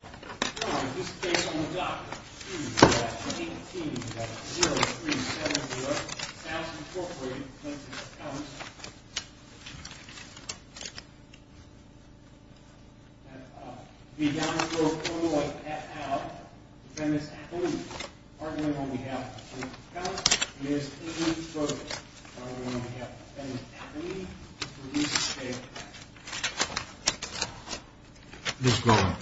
v. Downers Grove, IL, Feminist Academy, arguing on behalf of the Feminist Council, Ms. Evelyne Stokes, arguing on behalf of the Feminist Academy, to reduce the state of the country. Ms. Grogan.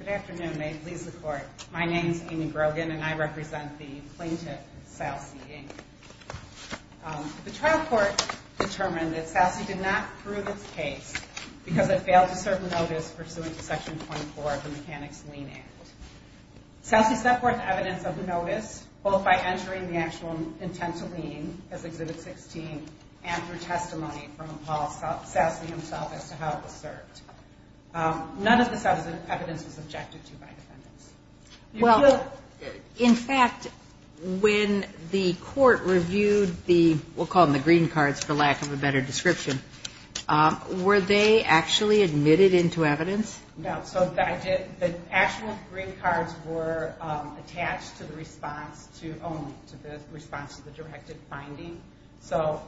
Good afternoon. May it please the Court. My name is Amy Grogan, and I represent the plaintiff, Salce, Inc. The trial court determined that Salce did not prove its case because it failed to serve notice pursuant to Section 24 of the Mechanics' Lien Act. Salce set forth evidence of the notice, both by entering the actual intent to lien, as Exhibit 16, and through testimony from Paul Salce himself as to how it was served. None of this evidence was subjected to by defendants. Well, in fact, when the Court reviewed the, we'll call them the green cards for lack of a better description, were they actually admitted into evidence? No, so the actual green cards were attached to the response to, only to the response to the directed finding. So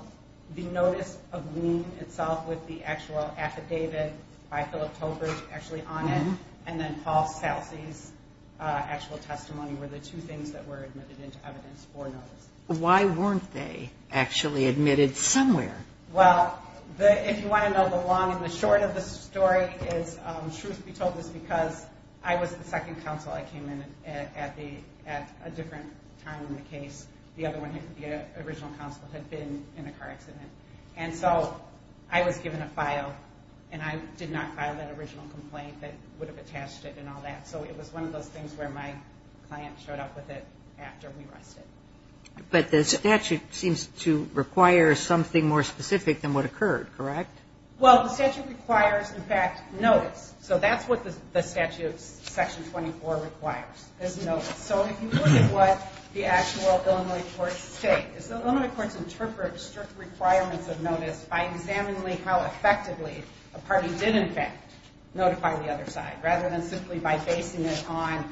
the notice of lien itself with the actual affidavit by Philip Tolbert actually on it, and then Paul Salce's actual testimony were the two things that were admitted into evidence for notice. Why weren't they actually admitted somewhere? Well, the, if you want to know the long and the short of the story is, truth be told, it's because I was the second counsel. I came in at the, at a different time in the case. The other one, the original counsel, had been in a car accident. And so I was given a file, and I did not file that original complaint that would have attached it and all that. So it was one of those things where my client showed up with it after we rushed it. But the statute seems to require something more specific than what occurred, correct? Well, the statute requires, in fact, notice. So that's what the statute, Section 24, requires, is notice. So if you look at what the actual Illinois courts state, is the Illinois courts interpret strict requirements of notice by examining how effectively a party did, in fact, notify the other side, rather than simply by basing it on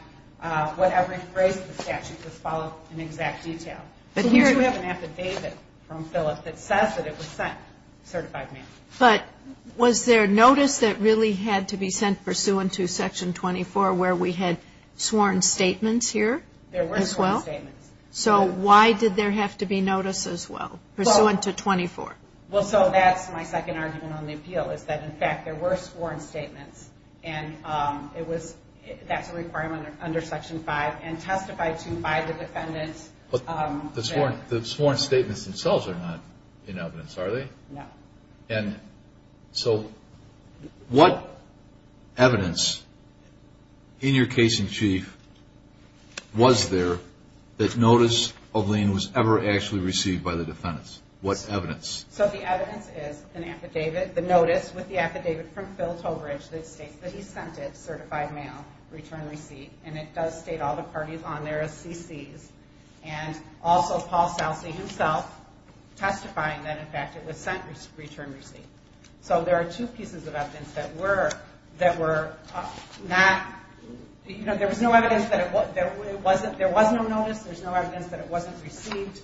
whatever phrase of the statute was followed in exact detail. But here we have an affidavit from Phillip that says that it was sent certified mail. But was there notice that really had to be sent pursuant to Section 24 where we had sworn statements here as well? There were sworn statements. So why did there have to be notice as well, pursuant to 24? Well, so that's my second argument on the appeal, is that, in fact, there were sworn statements. And that's a requirement under Section 5, and testified to by the defendants. But the sworn statements themselves are not in evidence, are they? No. And so what evidence in your case in chief was there that notice of lien was ever actually received by the defendants? What evidence? So the evidence is an affidavit, the notice with the affidavit from Phil Tobridge that states that he sent it, certified mail, return receipt. And it does state all the parties on there as CCs. And also Paul Salcy himself testifying that, in fact, it was sent return receipt. So there are two pieces of evidence that were not, you know, there was no evidence that it wasn't, there was no notice. There's no evidence that it wasn't received.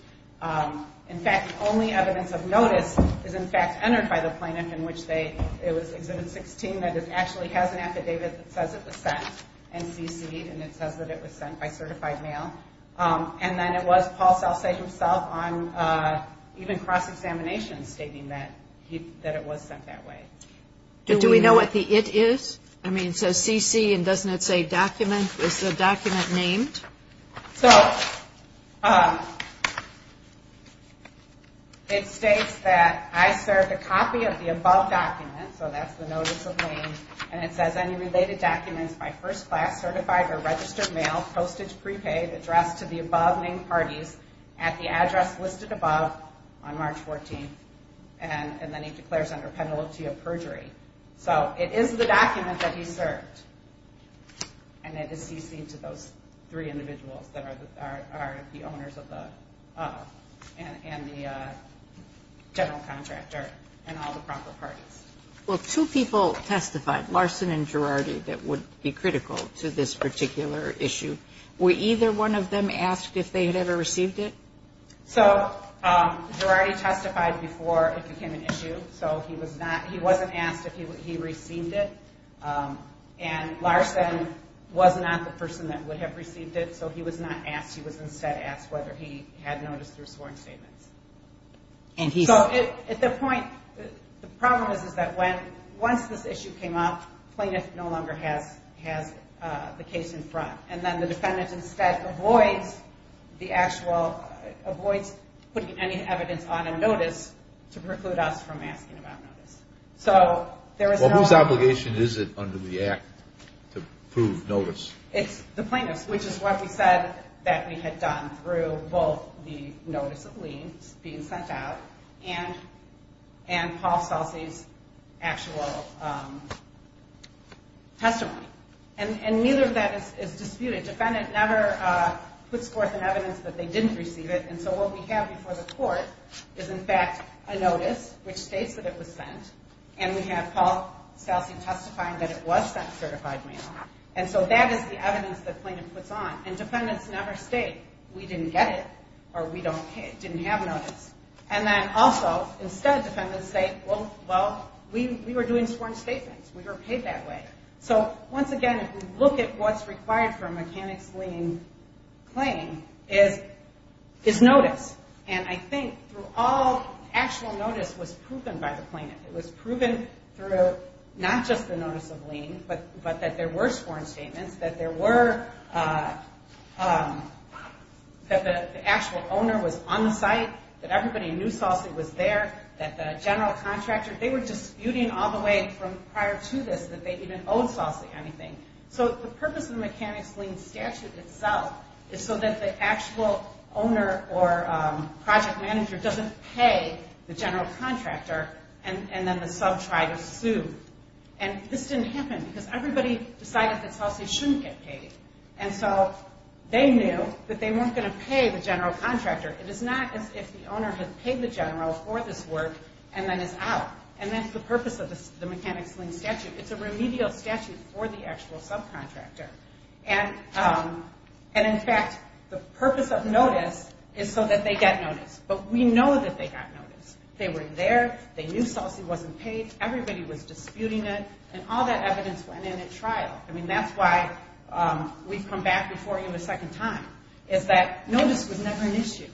In fact, the only evidence of notice is, in fact, entered by the plaintiff in which they, it was Exhibit 16, that it actually has an affidavit that says it was sent and CCed, and it says that it was sent by certified mail. And then it was Paul Salcy himself on even cross-examination stating that it was sent that way. Do we know what the it is? I mean, it says CC, and doesn't it say document? Is the document named? So it states that I served a copy of the above document, so that's the notice of name, and it says any related documents by first class, certified or registered mail, postage prepaid, addressed to the above named parties at the address listed above on March 14th. And then he declares under penalty of perjury. So it is the document that he served, and it is CCed to those three individuals that are the owners of the, and the general contractor, and all the proper parties. Well, two people testified, Larson and Girardi, that would be critical to this particular issue. Were either one of them asked if they had ever received it? So he wasn't asked if he received it. And Larson was not the person that would have received it, so he was not asked. He was instead asked whether he had noticed through sworn statements. So at the point, the problem is that once this issue came up, plaintiff no longer has the case in front. And then the defendant instead avoids the actual, avoids putting any evidence on a notice to preclude us from asking about notice. So there is no... Well, whose obligation is it under the Act to prove notice? It's the plaintiff's, which is what we said that we had done through both the notice of lien being sent out and Paul Celsi's actual testimony. And neither of that is disputed. Defendant never puts forth an evidence that they didn't receive it, and so what we have before the court is, in fact, a notice which states that it was sent, and we have Paul Celsi testifying that it was sent, certified mail. And so that is the evidence that plaintiff puts on, and defendants never state, we didn't get it or we didn't have notice. And then also, instead defendants say, well, we were doing sworn statements. We were paid that way. So once again, if we look at what's required for a mechanics lien claim is notice. And I think through all actual notice was proven by the plaintiff. It was proven through not just the notice of lien, but that there were sworn statements, that there were, that the actual owner was on the site, that everybody knew Celsi was there, that the general contractor, they were disputing all the way from prior to this that they even owed Celsi anything. So the purpose of the mechanics lien statute itself is so that the actual owner or project manager doesn't pay the general contractor, and then the sub tried to sue. And this didn't happen because everybody decided that Celsi shouldn't get paid. And so they knew that they weren't going to pay the general contractor. It is not as if the owner had paid the general for this work and then is out. And that's the purpose of the mechanics lien statute. It's a remedial statute for the actual subcontractor. And in fact, the purpose of notice is so that they get notice. But we know that they got notice. They were there. They knew Celsi wasn't paid. Everybody was disputing it. And all that evidence went in at trial. I mean, that's why we've come back before you a second time is that notice was never an issue.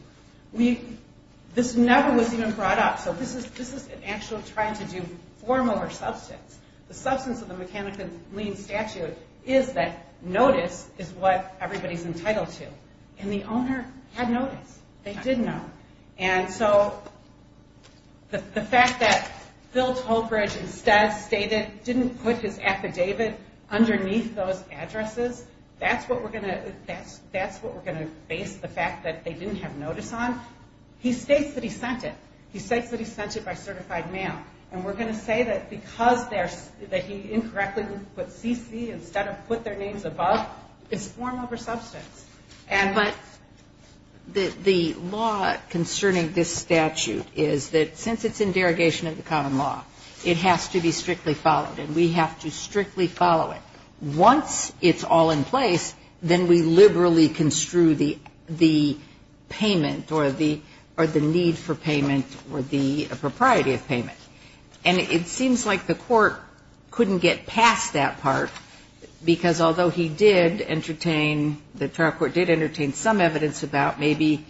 This never was even brought up. So this is an actual trying to do form over substance. The substance of the mechanics lien statute is that notice is what everybody's entitled to. And the owner had notice. They did know. And so the fact that Phil Tolbridge instead stated didn't put his affidavit underneath those addresses, that's what we're going to base the fact that they didn't have notice on. He states that he sent it. He states that he sent it by certified mail. And we're going to say that because he incorrectly put CC instead of put their names above is form over substance. But the law concerning this statute is that since it's in derogation of the common law, it has to be strictly followed. And we have to strictly follow it. Once it's all in place, then we liberally construe the payment or the need for payment or the propriety of payment. And it seems like the court couldn't get past that part because although he did entertain, the trial court did entertain some evidence about maybe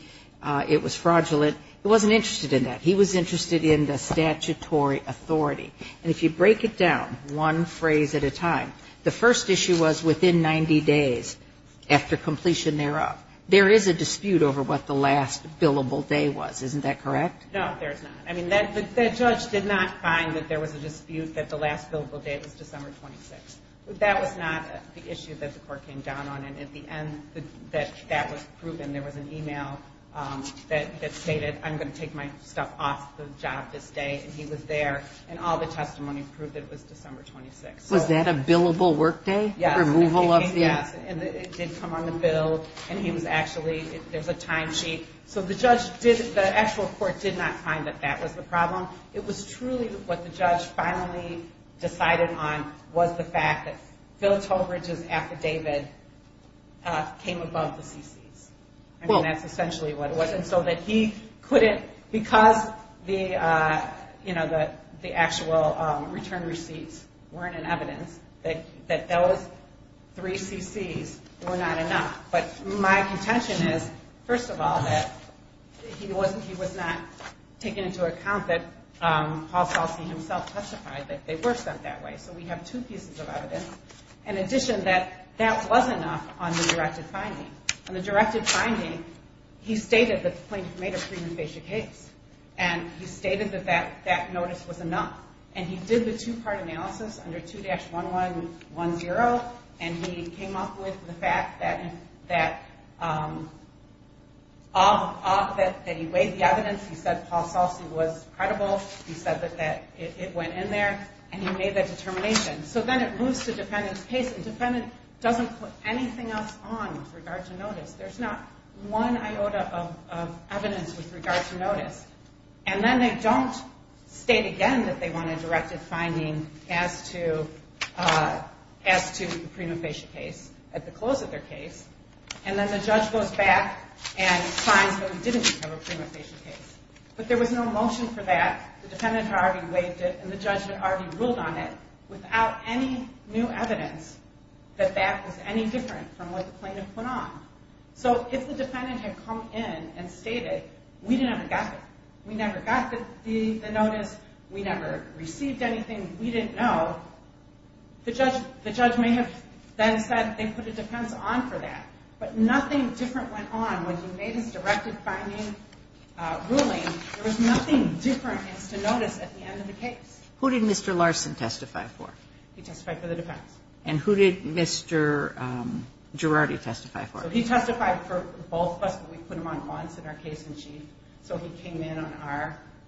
it was fraudulent, it wasn't interested in that. He was interested in the statutory authority. And if you break it down one phrase at a time, the first issue was within 90 days after completion thereof. There is a dispute over what the last billable day was. Isn't that correct? No, there's not. I mean, that judge did not find that there was a dispute that the last billable date was December 26th. That was not the issue that the court came down on. And at the end, that was proven. There was an email that stated, I'm going to take my stuff off the job this day. And he was there. And all the testimony proved that it was December 26th. Was that a billable workday? Yes. Removal of the? Yes. And it did come on the bill. And he was actually, there's a time sheet. So the judge did, the actual court did not find that that was the problem. It was truly what the judge finally decided on was the fact that Phil Tolbridge's affidavit came above the CCs. I mean, that's essentially what it was. And so that he couldn't, because the, you know, the actual return receipts weren't in evidence, that those three CCs were not enough. But my contention is, first of all, that he wasn't, he was not taking into account that Paul Solsey himself testified that they were sent that way. So we have two pieces of evidence. In addition, that that wasn't enough on the directed finding. On the directed finding, he stated that the plaintiff made a preemphasia case. And he stated that that notice was enough. And he did the two-part analysis under 2-1110. And he came up with the fact that he weighed the evidence. He said Paul Solsey was credible. He said that it went in there. And he made that determination. So then it moves to defendant's case. And defendant doesn't put anything else on with regard to notice. There's not one iota of evidence with regard to notice. And then they don't state again that they want a directed finding as to the preemphasia case at the close of their case. And then the judge goes back and finds that we didn't have a preemphasia case. But there was no motion for that. The defendant had already weighed it. And the judge had already ruled on it without any new evidence that that was any different from what the plaintiff put on. So if the defendant had come in and stated we never got it, we never got the notice, we never received anything, we didn't know, the judge may have then said they put a defense on for that. But nothing different went on when he made his directed finding ruling. There was nothing different as to notice at the end of the case. Who did Mr. Larson testify for? He testified for the defense. And who did Mr. Girardi testify for? He testified for both of us, but we put him on once in our case-in-chief. So he came in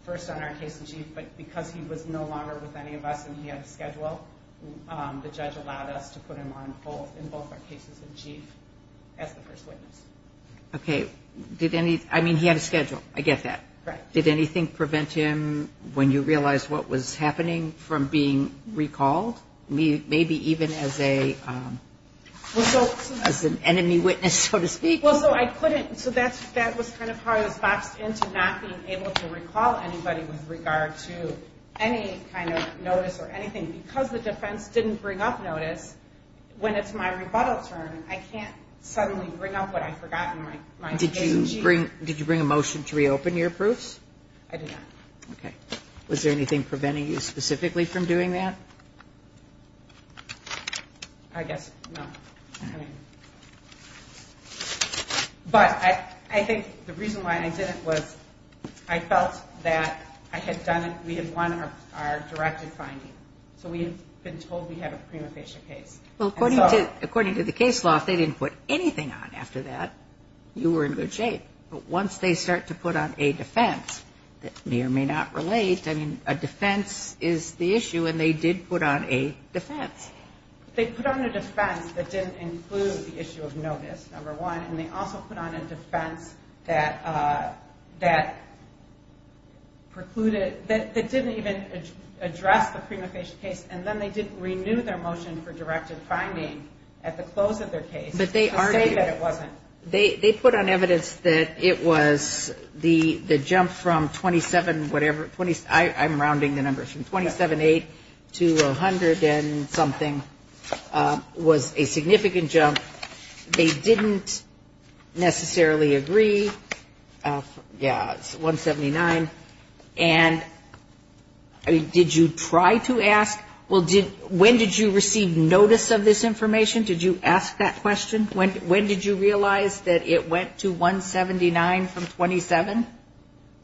first on our case-in-chief, but because he was no longer with any of us and he had a schedule, the judge allowed us to put him on in both our cases-in-chief as the first witness. Okay. I mean, he had a schedule. I get that. Right. Did anything prevent him when you realized what was happening from being recalled? Maybe even as an enemy witness, so to speak? Well, so I couldn't so that was kind of how I was boxed into not being able to recall anybody with regard to any kind of notice or anything because the defense didn't bring up notice when it's my rebuttal turn. I can't suddenly bring up what I forgot in my case-in-chief. Did you bring a motion to reopen your proofs? I did not. Okay. Was there anything preventing you specifically from doing that? I guess no. Okay. But I think the reason why I didn't was I felt that I had done it, we had won our directed finding. So we had been told we had a prima facie case. Well, according to the case law, if they didn't put anything on after that, you were in good shape. But once they start to put on a defense that may or may not relate, I mean, a defense is the issue and they did put on a defense. They put on a defense that didn't include the issue of notice, number one, and they also put on a defense that precluded, that didn't even address the prima facie case and then they didn't renew their motion for directed finding at the close of their case to say that it wasn't. They put on evidence that it was the jump from 27 whatever, I'm rounding the numbers, from 27.8 to 100 and something was a significant jump. They didn't necessarily agree, yeah, 179. And did you try to ask, well, when did you receive notice of this information? Did you ask that question? When did you realize that it went to 179 from 27?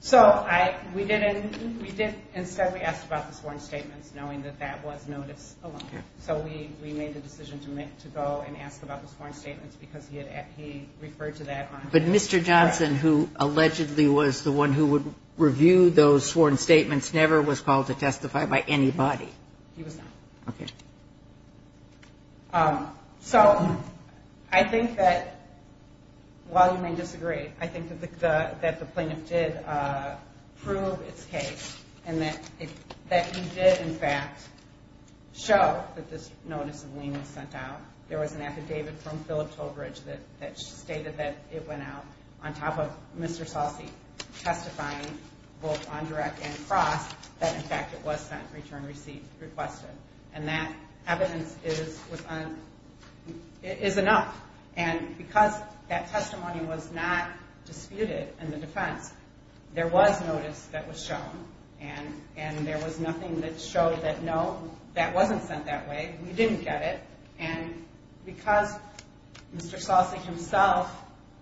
So we did, instead we asked about the sworn statements knowing that that was notice alone. So we made the decision to go and ask about the sworn statements because he referred to that. But Mr. Johnson, who allegedly was the one who would review those sworn statements, never was called to testify by anybody. He was not. Okay. So I think that, while you may disagree, I think that the plaintiff did prove its case and that he did, in fact, show that this notice of lien was sent out. There was an affidavit from Phillip Tolbridge that stated that it went out, on top of Mr. Sauci testifying both on direct and across, that, in fact, it was sent, returned, received, requested. And that evidence is enough. And because that testimony was not disputed in the defense, there was notice that was shown. And there was nothing that showed that, no, that wasn't sent that way. We didn't get it. And because Mr. Sauci himself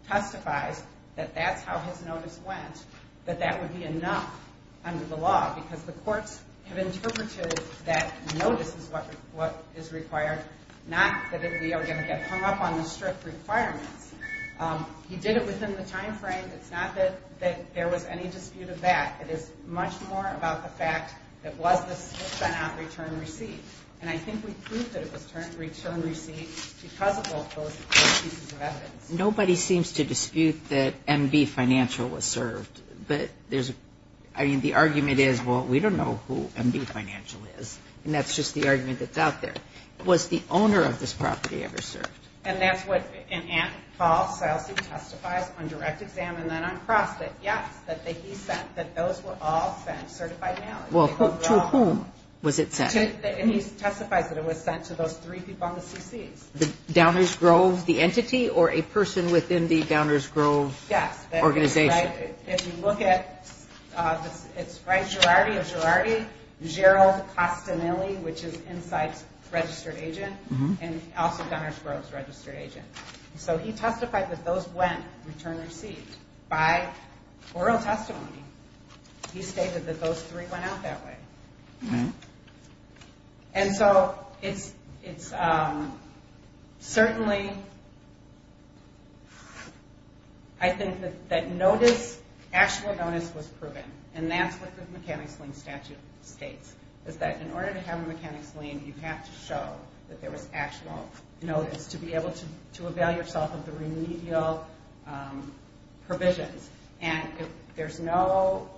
testifies that that's how his notice went, that that would be enough under the law because the courts have interpreted that notice is what is required, not that we are going to get hung up on the strict requirements. He did it within the time frame. It's not that there was any dispute of that. It is much more about the fact that was this sent out, returned, received. And I think we proved that it was returned, received because of both those pieces of evidence. Nobody seems to dispute that M.B. Financial was served. I mean, the argument is, well, we don't know who M.B. Financial is, and that's just the argument that's out there. Was the owner of this property ever served? And that's what Paul Sauci testifies on direct exam and then on cross, that, yes, that he sent, that those were all sent certified now. Well, to whom was it sent? And he testifies that it was sent to those three people on the CCs. The Downers Grove, the entity, or a person within the Downers Grove organization? Yes. Organization. If you look at, it's right, Girardi of Girardi, Gerald Costinelli, which is Insight's registered agent, and also Downers Grove's registered agent. So he testified that those went returned, received by oral testimony. He stated that those three went out that way. And so it's certainly, I think, that notice, actual notice was proven, and that's what the mechanics lien statute states, is that in order to have a mechanics lien, you have to show that there was actual notice to be able to avail yourself of the remedial provisions. And there's no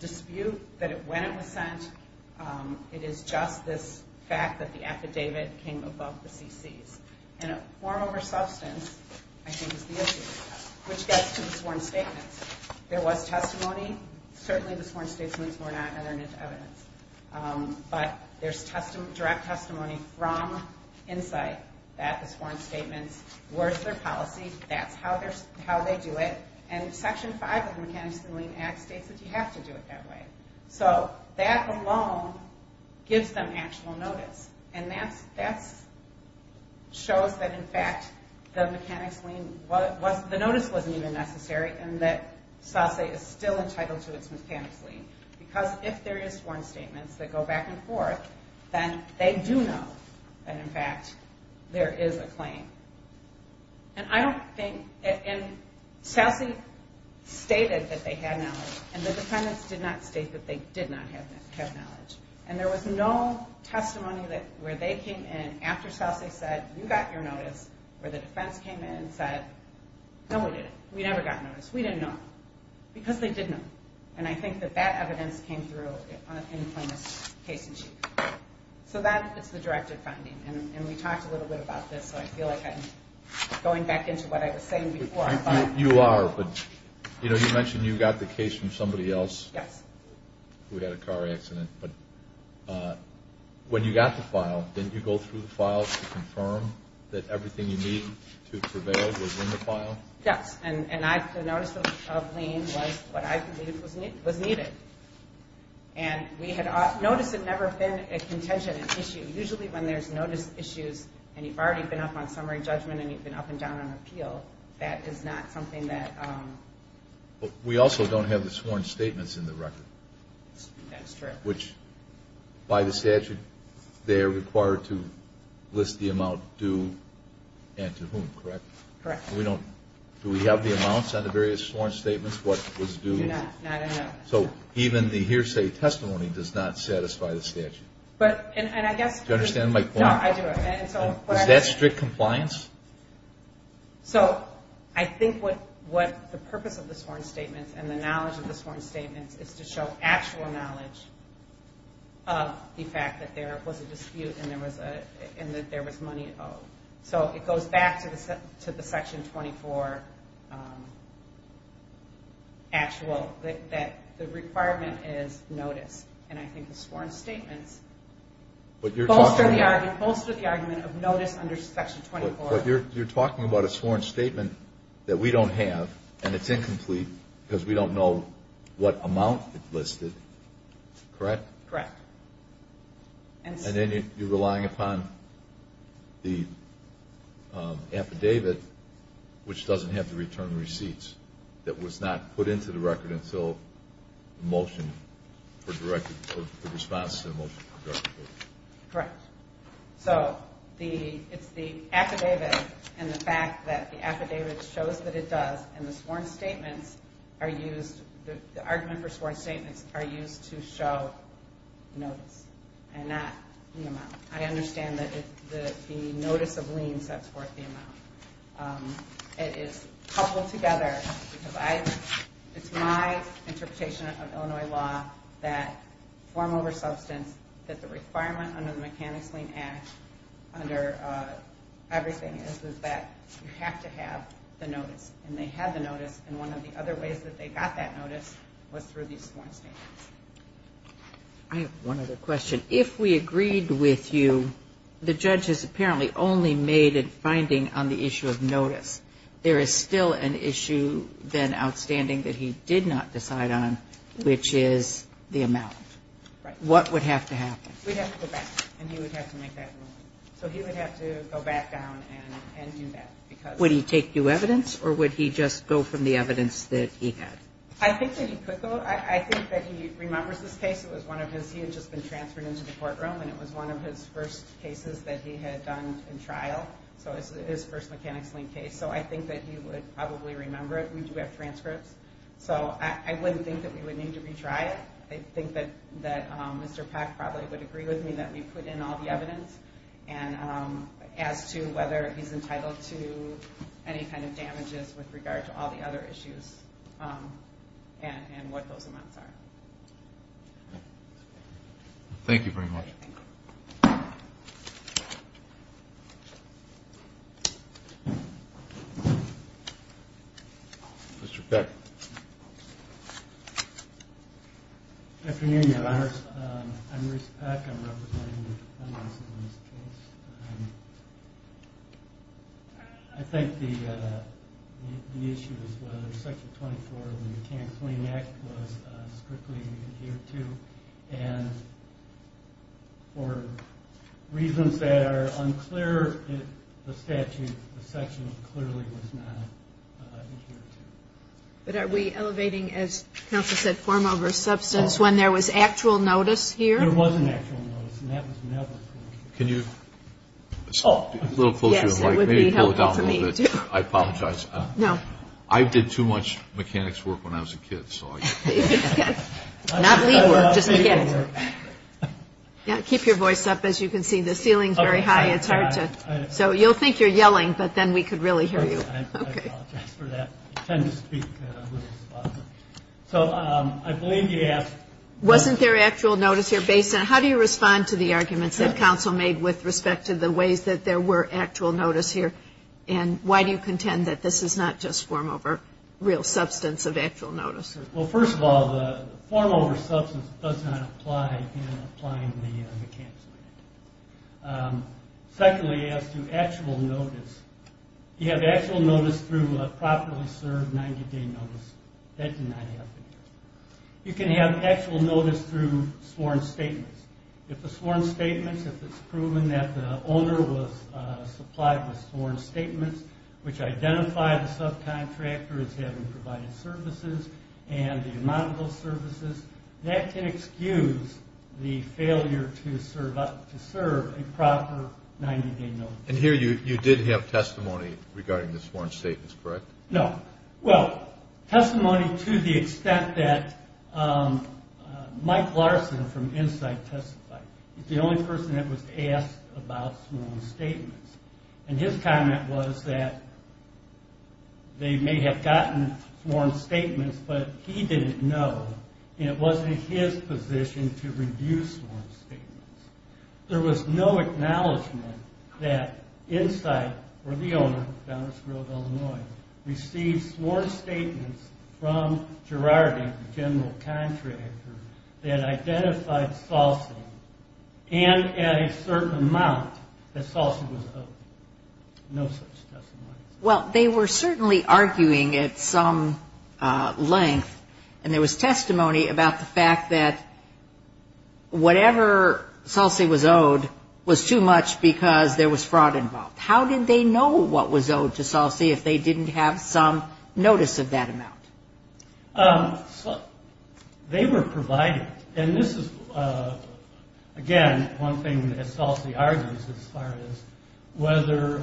dispute that when it was sent, it is just this fact that the affidavit came above the CCs. And a form over substance, I think, is the issue, which gets to the sworn statements. There was testimony. Certainly the sworn statements were not evidence. But there's direct testimony from Insight that the sworn statements were their policy. That's how they do it. And Section 5 of the Mechanics Lien Act states that you have to do it that way. So that alone gives them actual notice. And that shows that, in fact, the mechanics lien, the notice wasn't even necessary, and that SASE is still entitled to its mechanics lien. Because if there is sworn statements that go back and forth, And I don't think SASE stated that they had knowledge, and the defendants did not state that they did not have knowledge. And there was no testimony where they came in after SASE said, you got your notice, where the defense came in and said, no, we didn't, we never got notice, we didn't know. Because they didn't know. And I think that that evidence came through in plainest case in chief. So that is the directed finding. And we talked a little bit about this. So I feel like I'm going back into what I was saying before. You are. But, you know, you mentioned you got the case from somebody else who had a car accident. But when you got the file, didn't you go through the file to confirm that everything you needed to prevail was in the file? Yes. And the notice of lien was what I believed was needed. And notice had never been a contingent issue. Usually when there's notice issues, and you've already been up on summary judgment and you've been up and down on appeal, that is not something that. We also don't have the sworn statements in the record. That's true. Which, by the statute, they're required to list the amount due and to whom, correct? Correct. Do we have the amounts on the various sworn statements, what was due? Not enough. So even the hearsay testimony does not satisfy the statute. Do you understand my point? No, I do. Is that strict compliance? So I think what the purpose of the sworn statements and the knowledge of the sworn statements is to show actual knowledge of the fact that there was a dispute and that there was money owed. So it goes back to the Section 24 actual, that the requirement is notice. And I think the sworn statements bolster the argument of notice under Section 24. But you're talking about a sworn statement that we don't have and it's incomplete because we don't know what amount it listed, correct? Correct. And then you're relying upon the affidavit, which doesn't have the return receipts, that was not put into the record until the motion for response to the motion for direct appeal. Correct. So it's the affidavit and the fact that the affidavit shows that it does and the argument for sworn statements are used to show notice and not the amount. I understand that the notice of lien sets forth the amount. It is coupled together because it's my interpretation of Illinois law that form over substance, that the requirement under the Mechanics Lien Act under everything is that you have to have the notice. And they had the notice, and one of the other ways that they got that notice was through these sworn statements. I have one other question. If we agreed with you, the judge has apparently only made a finding on the issue of notice. There is still an issue then outstanding that he did not decide on, which is the amount. Right. What would have to happen? We'd have to go back, and he would have to make that ruling. So he would have to go back down and do that. Would he take new evidence or would he just go from the evidence that he had? I think that he could go. I think that he remembers this case. It was one of his. He had just been transferred into the courtroom, and it was one of his first cases that he had done in trial. So it was his first Mechanics Lien case. So I think that he would probably remember it. We do have transcripts. So I wouldn't think that we would need to retry it. I think that Mr. Pack probably would agree with me that we put in all the evidence as to whether he's entitled to any kind of damages with regard to all the other issues and what those amounts are. Thank you very much. Mr. Pack. Good afternoon, Your Honors. I'm Bruce Pack. I'm representing the defendants in this case. I think the issue is whether Section 24 of the Mechanics Lien Act was strictly adhered to. And for reasons that are unclear in the statute, the section clearly was not adhered to. But are we elevating, as counsel said, form over substance when there was actual notice here? There was an actual notice, and that was never approved. Can you? A little closer to the mic. Maybe pull it down a little bit. I apologize. No. I did too much mechanics work when I was a kid, so. Not lead work, just a kid. Keep your voice up, as you can see. The ceiling is very high. It's hard to. So you'll think you're yelling, but then we could really hear you. Okay. I apologize for that. I tend to speak a little softly. So I believe you asked. Wasn't there actual notice here? How do you respond to the arguments that counsel made with respect to the ways that there were actual notice here? And why do you contend that this is not just form over real substance of actual notice? Well, first of all, the form over substance does not apply in applying the Mechanics Lien Act. Secondly, as to actual notice, you have actual notice through a properly served 90-day notice. That did not happen here. You can have actual notice through sworn statements. If the sworn statements, if it's proven that the owner was supplied with sworn statements, which identify the subcontractor as having provided services and the amount of those services, that can excuse the failure to serve a proper 90-day notice. And here you did have testimony regarding the sworn statements, correct? No. Well, testimony to the extent that Mike Larson from Insight testified. He's the only person that was asked about sworn statements. And his comment was that they may have gotten sworn statements, but he didn't know, and it wasn't his position to review sworn statements. There was no acknowledgment that Insight, or the owner, received sworn statements from Gerardi, the general contractor, that identified Salsa and at a certain amount that Salsa was open. No such testimony. Well, they were certainly arguing at some length, and there was testimony about the fact that whatever Salsa was owed was too much because there was fraud involved. How did they know what was owed to Salsa if they didn't have some notice of that amount? They were provided. And this is, again, one thing that Salsa argues as far as whether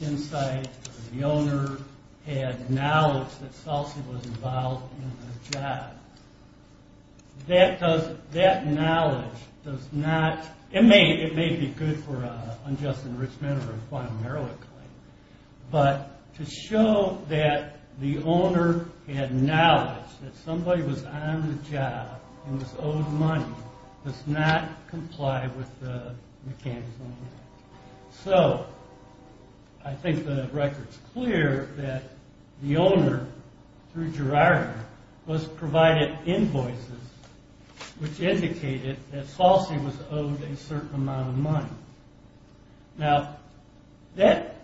Insight or the owner had knowledge that Salsa was involved in the job. That knowledge does not – it may be good for an unjust enrichment or a quantum heroic claim, but to show that the owner had knowledge that somebody was on the job and was owed money does not comply with the mechanism. So, I think the record's clear that the owner, through Gerardi, was provided invoices which indicated that Salsa was owed a certain amount of money. Now, that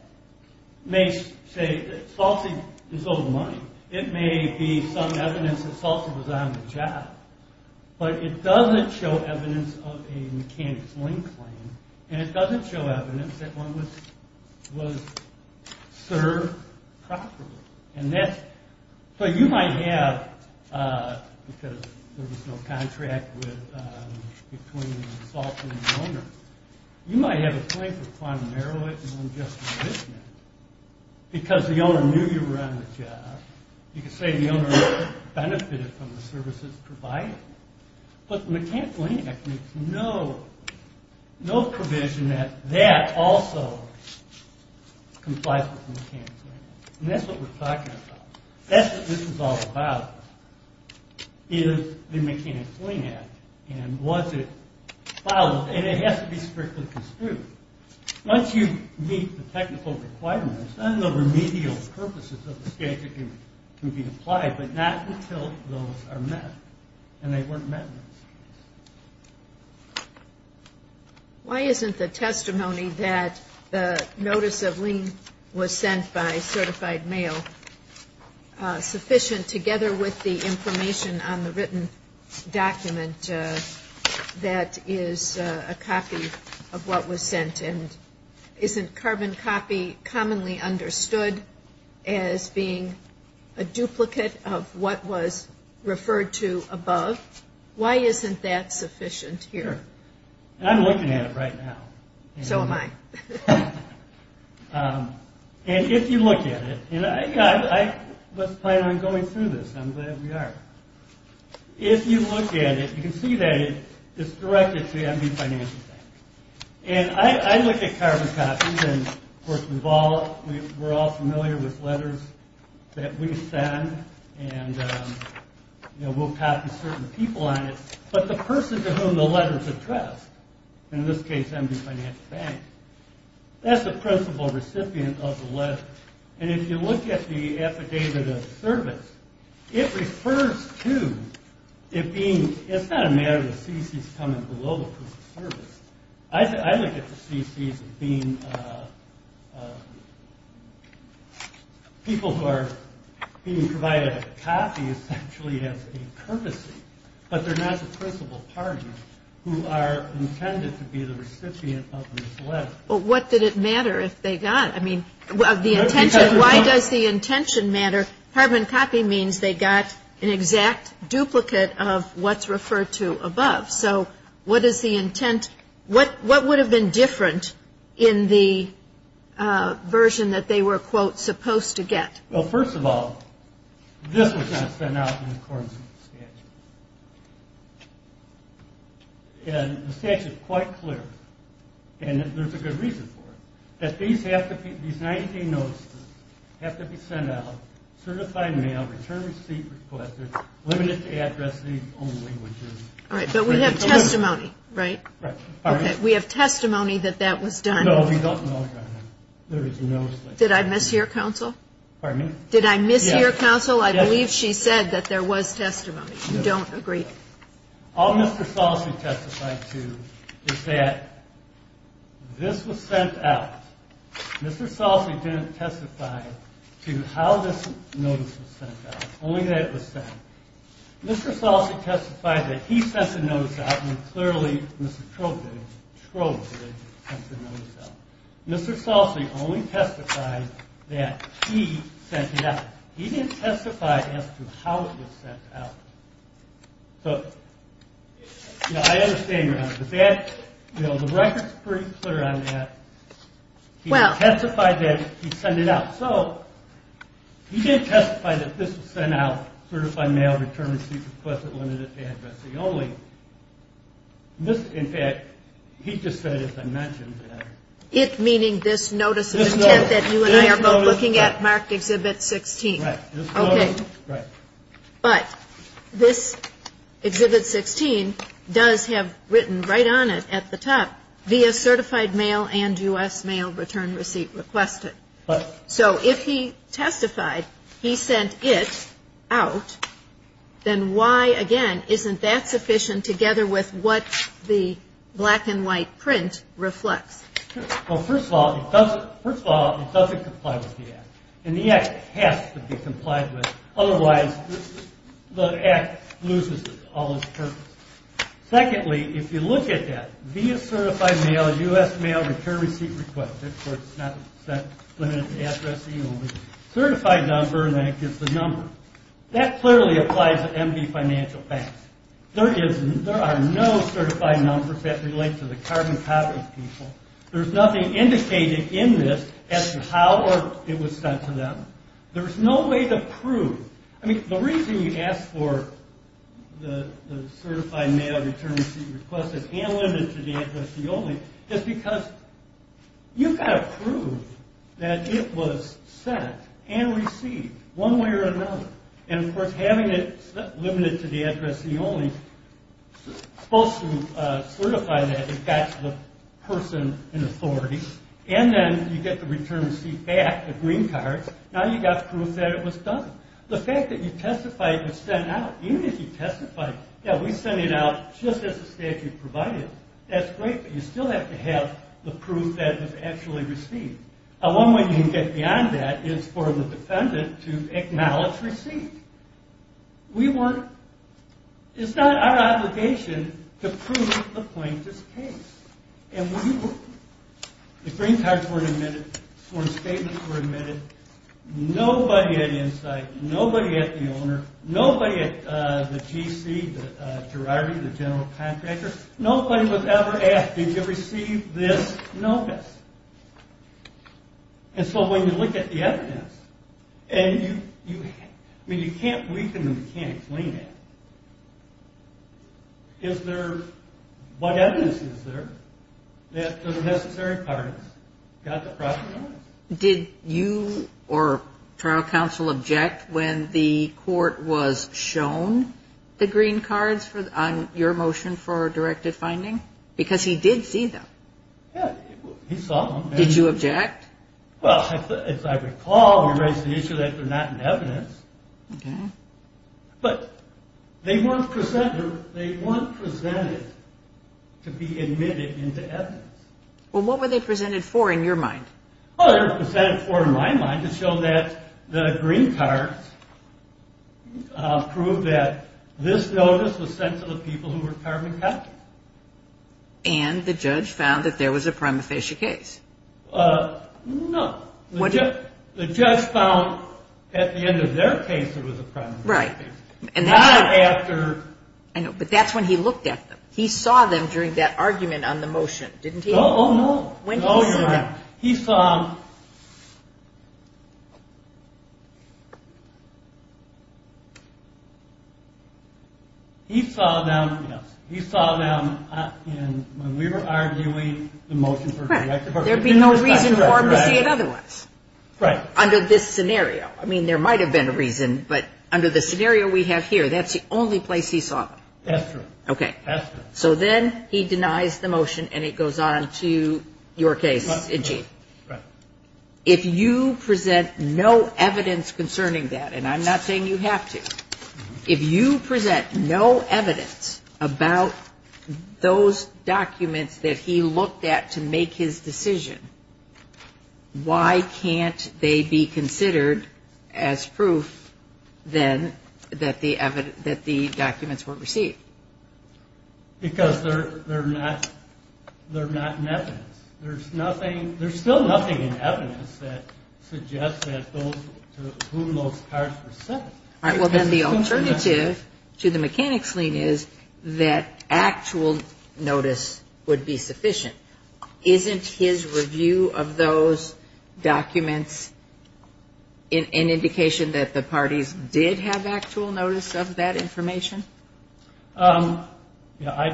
may say that Salsa is owed money. It may be some evidence that Salsa was on the job, but it doesn't show evidence of a mechanic's lien claim, and it doesn't show evidence that one was served properly. So, you might have – because there was no contract between the Salsa and the owner – you might have a claim for quantum heroic and unjust enrichment because the owner knew you were on the job. You could say the owner benefited from the services provided. But the Mechanic's Lien Act makes no provision that that also complies with the Mechanic's Lien Act. And that's what we're talking about. That's what this is all about, is the Mechanic's Lien Act, and was it followed. And it has to be strictly construed. Once you meet the technical requirements, then the remedial purposes of the statute can be applied, but not until those are met, and they weren't met. Why isn't the testimony that the notice of lien was sent by certified mail sufficient, together with the information on the written document that is a copy of what was sent? And isn't carbon copy commonly understood as being a duplicate of what was referred to above? Why isn't that sufficient here? I'm looking at it right now. So am I. And if you look at it, and let's plan on going through this. I'm glad we are. If you look at it, you can see that it's directed to the MD Financial Bank. And I look at carbon copies, and, of course, we're all familiar with letters that we send, and we'll copy certain people on it. But the person to whom the letter is addressed, in this case, MD Financial Bank, that's the principal recipient of the letter. And if you look at the affidavit of service, it refers to it being – it's not a matter of the CCs coming below the proof of service. I look at the CCs as being people who are being provided a copy, essentially, as a courtesy, but they're not the principal partner who are intended to be the recipient of this letter. Well, what did it matter if they got – I mean, why does the intention matter? Carbon copy means they got an exact duplicate of what's referred to above. So what is the intent? What would have been different in the version that they were, quote, supposed to get? Well, first of all, this was not sent out in accordance with the statute. And the statute is quite clear, and there's a good reason for it, that these have to be – these 90-day notices have to be sent out, certified mail, return receipt requested, limited to address these only when due. All right, but we have testimony, right? Right. Okay, we have testimony that that was done. No, we don't know that. There is no such thing. Did I mishear, Counsel? Pardon me? Did I mishear, Counsel? Yes. I believe she said that there was testimony. We don't agree. All Mr. Salsey testified to is that this was sent out. Mr. Salsey didn't testify to how this notice was sent out, only that it was sent. Mr. Salsey testified that he sent the notice out, and clearly, Mr. Trowbridge sent the notice out. Mr. Salsey only testified that he sent it out. He didn't testify as to how it was sent out. So, you know, I understand, Your Honor, but that – you know, the record's pretty clear on that. He testified that he sent it out. So he did testify that this was sent out, certified mail, return receipt requested, limited to address the only. In fact, he just said, as I mentioned. It meaning this notice of intent that you and I are both looking at marked Exhibit 16. Right. Okay. But this Exhibit 16 does have written right on it at the top, via certified mail and U.S. mail return receipt requested. So if he testified he sent it out, then why, again, isn't that sufficient together with what the black and white print reflects? Well, first of all, it doesn't comply with the Act. And the Act has to be complied with. Otherwise, the Act loses all its purpose. Secondly, if you look at that, via certified mail, U.S. mail return receipt requested, where it's not limited to address the only certified number, and then it gives the number. That clearly applies to MD Financial Banks. There are no certified numbers that relate to the carbon copy people. There's nothing indicated in this as to how it was sent to them. There's no way to prove. I mean, the reason you ask for the certified mail return receipt requested and limited to the address the only, is because you've got to prove that it was sent and received one way or another. And, of course, having it limited to the address the only, supposed to certify that it got to the person in authority. And then you get the return receipt back, the green card. Now you've got proof that it was done. The fact that you testified it was sent out, even if you testified, yeah, we sent it out just as the statute provided, that's great, but you still have to have the proof that it was actually received. One way you can get beyond that is for the defendant to acknowledge receipt. We weren't, it's not our obligation to prove the plaintiff's case. And we weren't. Nobody at Insight, nobody at the owner, nobody at the GC, the Gerardi, the general contractor, nobody was ever asked, did you receive this notice? And so when you look at the evidence, and you, I mean, you can't weaken the mechanics, lean it. Is there, what evidence is there that the necessary parties got the property? Did you or trial counsel object when the court was shown the green cards on your motion for directed finding? Because he did see them. Yeah, he saw them. Did you object? Well, as I recall, we raised the issue that they're not in evidence. Okay. But they weren't presented, they weren't presented to be admitted into evidence. Well, what were they presented for, in your mind? Well, they were presented for, in my mind, to show that the green cards proved that this notice was sent to the people who were carbon captive. And the judge found that there was a prima facie case. No. The judge found at the end of their case there was a prima facie case. Right. Not after. I know, but that's when he looked at them. He saw them during that argument on the motion, didn't he? Oh, no. When did he see them? He saw them, yes. He saw them when we were arguing the motion for directed finding. There'd be no reason for him to see it otherwise. Right. Under this scenario. I mean, there might have been a reason, but under the scenario we have here, that's the only place he saw them. That's true. Okay. So then he denies the motion and it goes on to your case in chief. Right. If you present no evidence concerning that, and I'm not saying you have to, if you present no evidence about those documents that he looked at to make his decision, why can't they be considered as proof, then, that the documents were received? Because they're not in evidence. There's nothing, there's still nothing in evidence that suggests that those, to whom those cards were sent. All right. Well, then the alternative to the mechanics lien is that actual notice would be sufficient. Isn't his review of those documents an indication that the parties did have actual notice of that information? I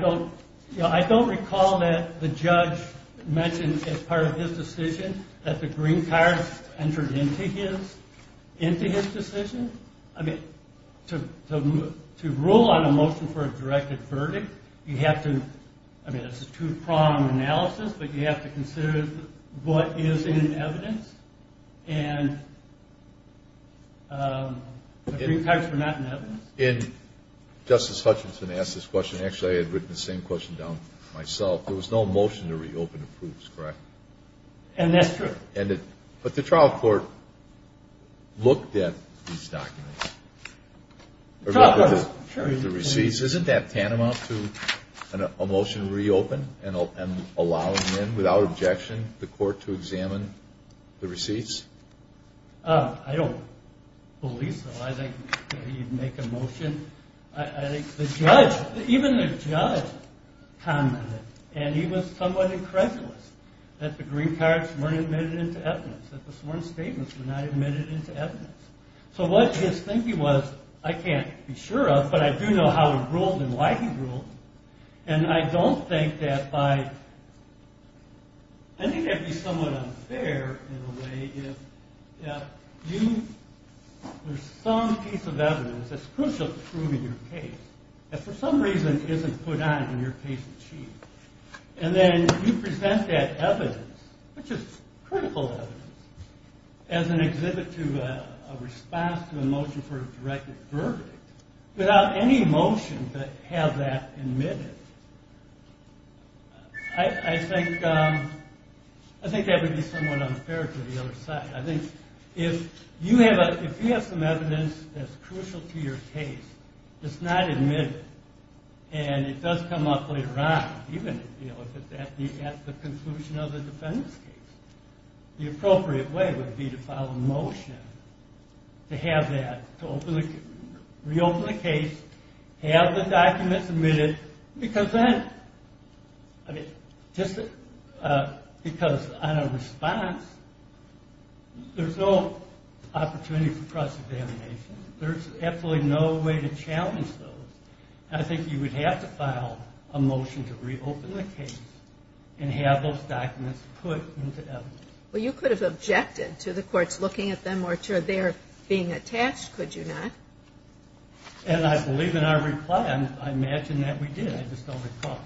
don't recall that the judge mentioned as part of his decision that the green cards entered into his decision. I mean, to rule on a motion for a directed verdict, you have to, it's a two-prong analysis, but you have to consider what is in evidence, and the green cards were not in evidence. And Justice Hutchinson asked this question. Actually, I had written the same question down myself. There was no motion to reopen the proofs, correct? And that's true. But the trial court looked at these documents. The trial court, sure. Isn't that tantamount to a motion to reopen and allow them in without objection, the court to examine the receipts? I don't believe so. I think he'd make a motion. I think the judge, even the judge commented, and he was somewhat incredulous, that the green cards weren't admitted into evidence, that the sworn statements were not admitted into evidence. So what his thinking was, I can't be sure of, but I do know how he ruled and why he ruled, and I don't think that by, I think that would be somewhat unfair in a way, if you, there's some piece of evidence that's crucial to proving your case, that for some reason isn't put on when your case is achieved, and then you present that evidence, which is critical evidence, as an exhibit to a response to a motion for a directed verdict, without any motion to have that admitted, I think that would be somewhat unfair to the other side. I think if you have some evidence that's crucial to your case, it's not admitted, and it does come up later on, the appropriate way would be to file a motion to have that, to reopen the case, have the documents admitted, because then, I mean, just because on a response, there's no opportunity for cross-examination. There's absolutely no way to challenge those. I think you would have to file a motion to reopen the case and have those documents put into evidence. Well, you could have objected to the courts looking at them or to their being attached, could you not? And I believe in our reply. I imagine that we did. I just don't recall.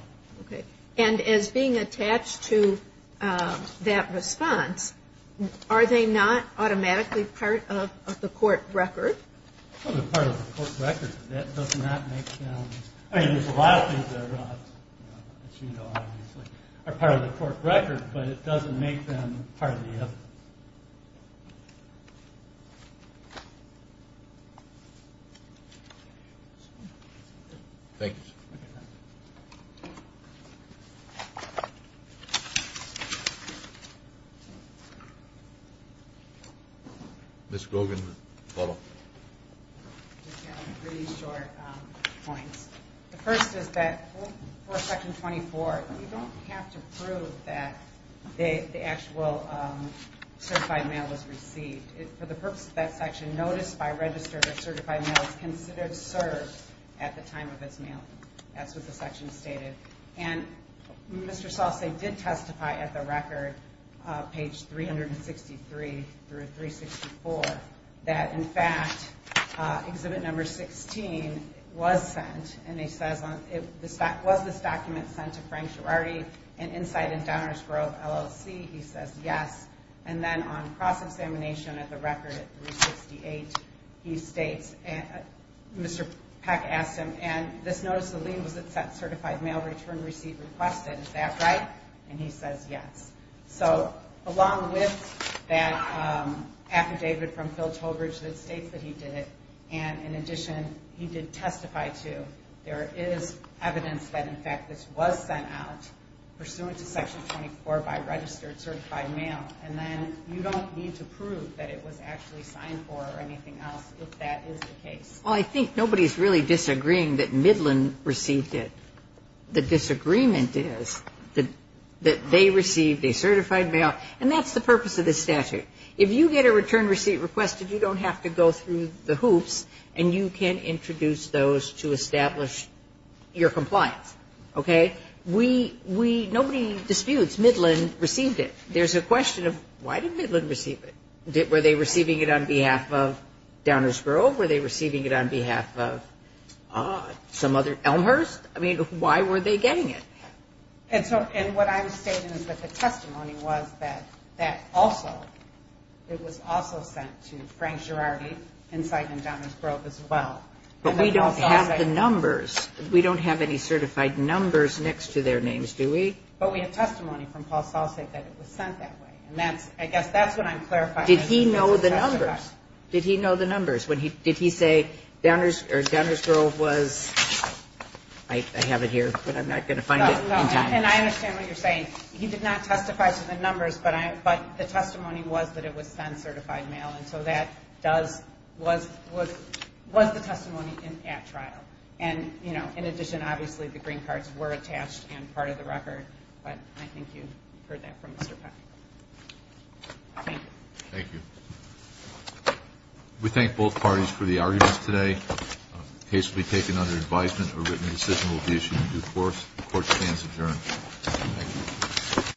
Okay. And as being attached to that response, are they not automatically part of the court record? Part of the court record. That does not make sense. I mean, there's a lot of things that are not, as you know, obviously, are part of the court record, but it doesn't make them part of the evidence. Thank you, sir. Ms. Grogan, follow? I just have three short points. The first is that for Section 24, you don't have to prove that the actual certified mail was received. For the purpose of that section, notice by register that certified mail is considered served at the time of its mailing. That's what the section stated. And Mr. Salcey did testify at the record, page 363 through 364, that, in fact, exhibit number 16 was sent. And he says, was this document sent to Frank Girardi at Insight in Downers Grove, LLC? He says, yes. And then on cross-examination at the record at 368, he states, Mr. Peck asked him, and this notice of lien was it sent certified mail, return receipt requested, is that right? And he says, yes. So along with that affidavit from Phil Tolbridge that states that he did it and, in addition, he did testify to, there is evidence that, in fact, this was sent out pursuant to Section 24 by registered certified mail. And then you don't need to prove that it was actually signed for or anything else if that is the case. Well, I think nobody is really disagreeing that Midland received it. The disagreement is that they received a certified mail, and that's the purpose of this statute. If you get a return receipt requested, you don't have to go through the hoops and you can introduce those to establish your compliance. Okay? Nobody disputes Midland received it. There's a question of, why did Midland receive it? Were they receiving it on behalf of Downers Grove? Were they receiving it on behalf of some other, Elmhurst? I mean, why were they getting it? And what I'm stating is that the testimony was that that also, it was also sent to Frank Girardi inside and down in Grove as well. But we don't have the numbers. We don't have any certified numbers next to their names, do we? But we have testimony from Paul Salsak that it was sent that way. And that's, I guess that's what I'm clarifying. Did he know the numbers? Did he know the numbers? Did he say Downers Grove was, I have it here, but I'm not going to find it. And I understand what you're saying. He did not testify to the numbers, but the testimony was that it was sent certified mail, and so that was the testimony at trial. And, you know, in addition, obviously the green cards were attached and part of the record, but I think you heard that from Mr. Peck. Thank you. We thank both parties for the arguments today. The case will be taken under advisement. A written decision will be issued in due course. The Court stands adjourned. Thank you.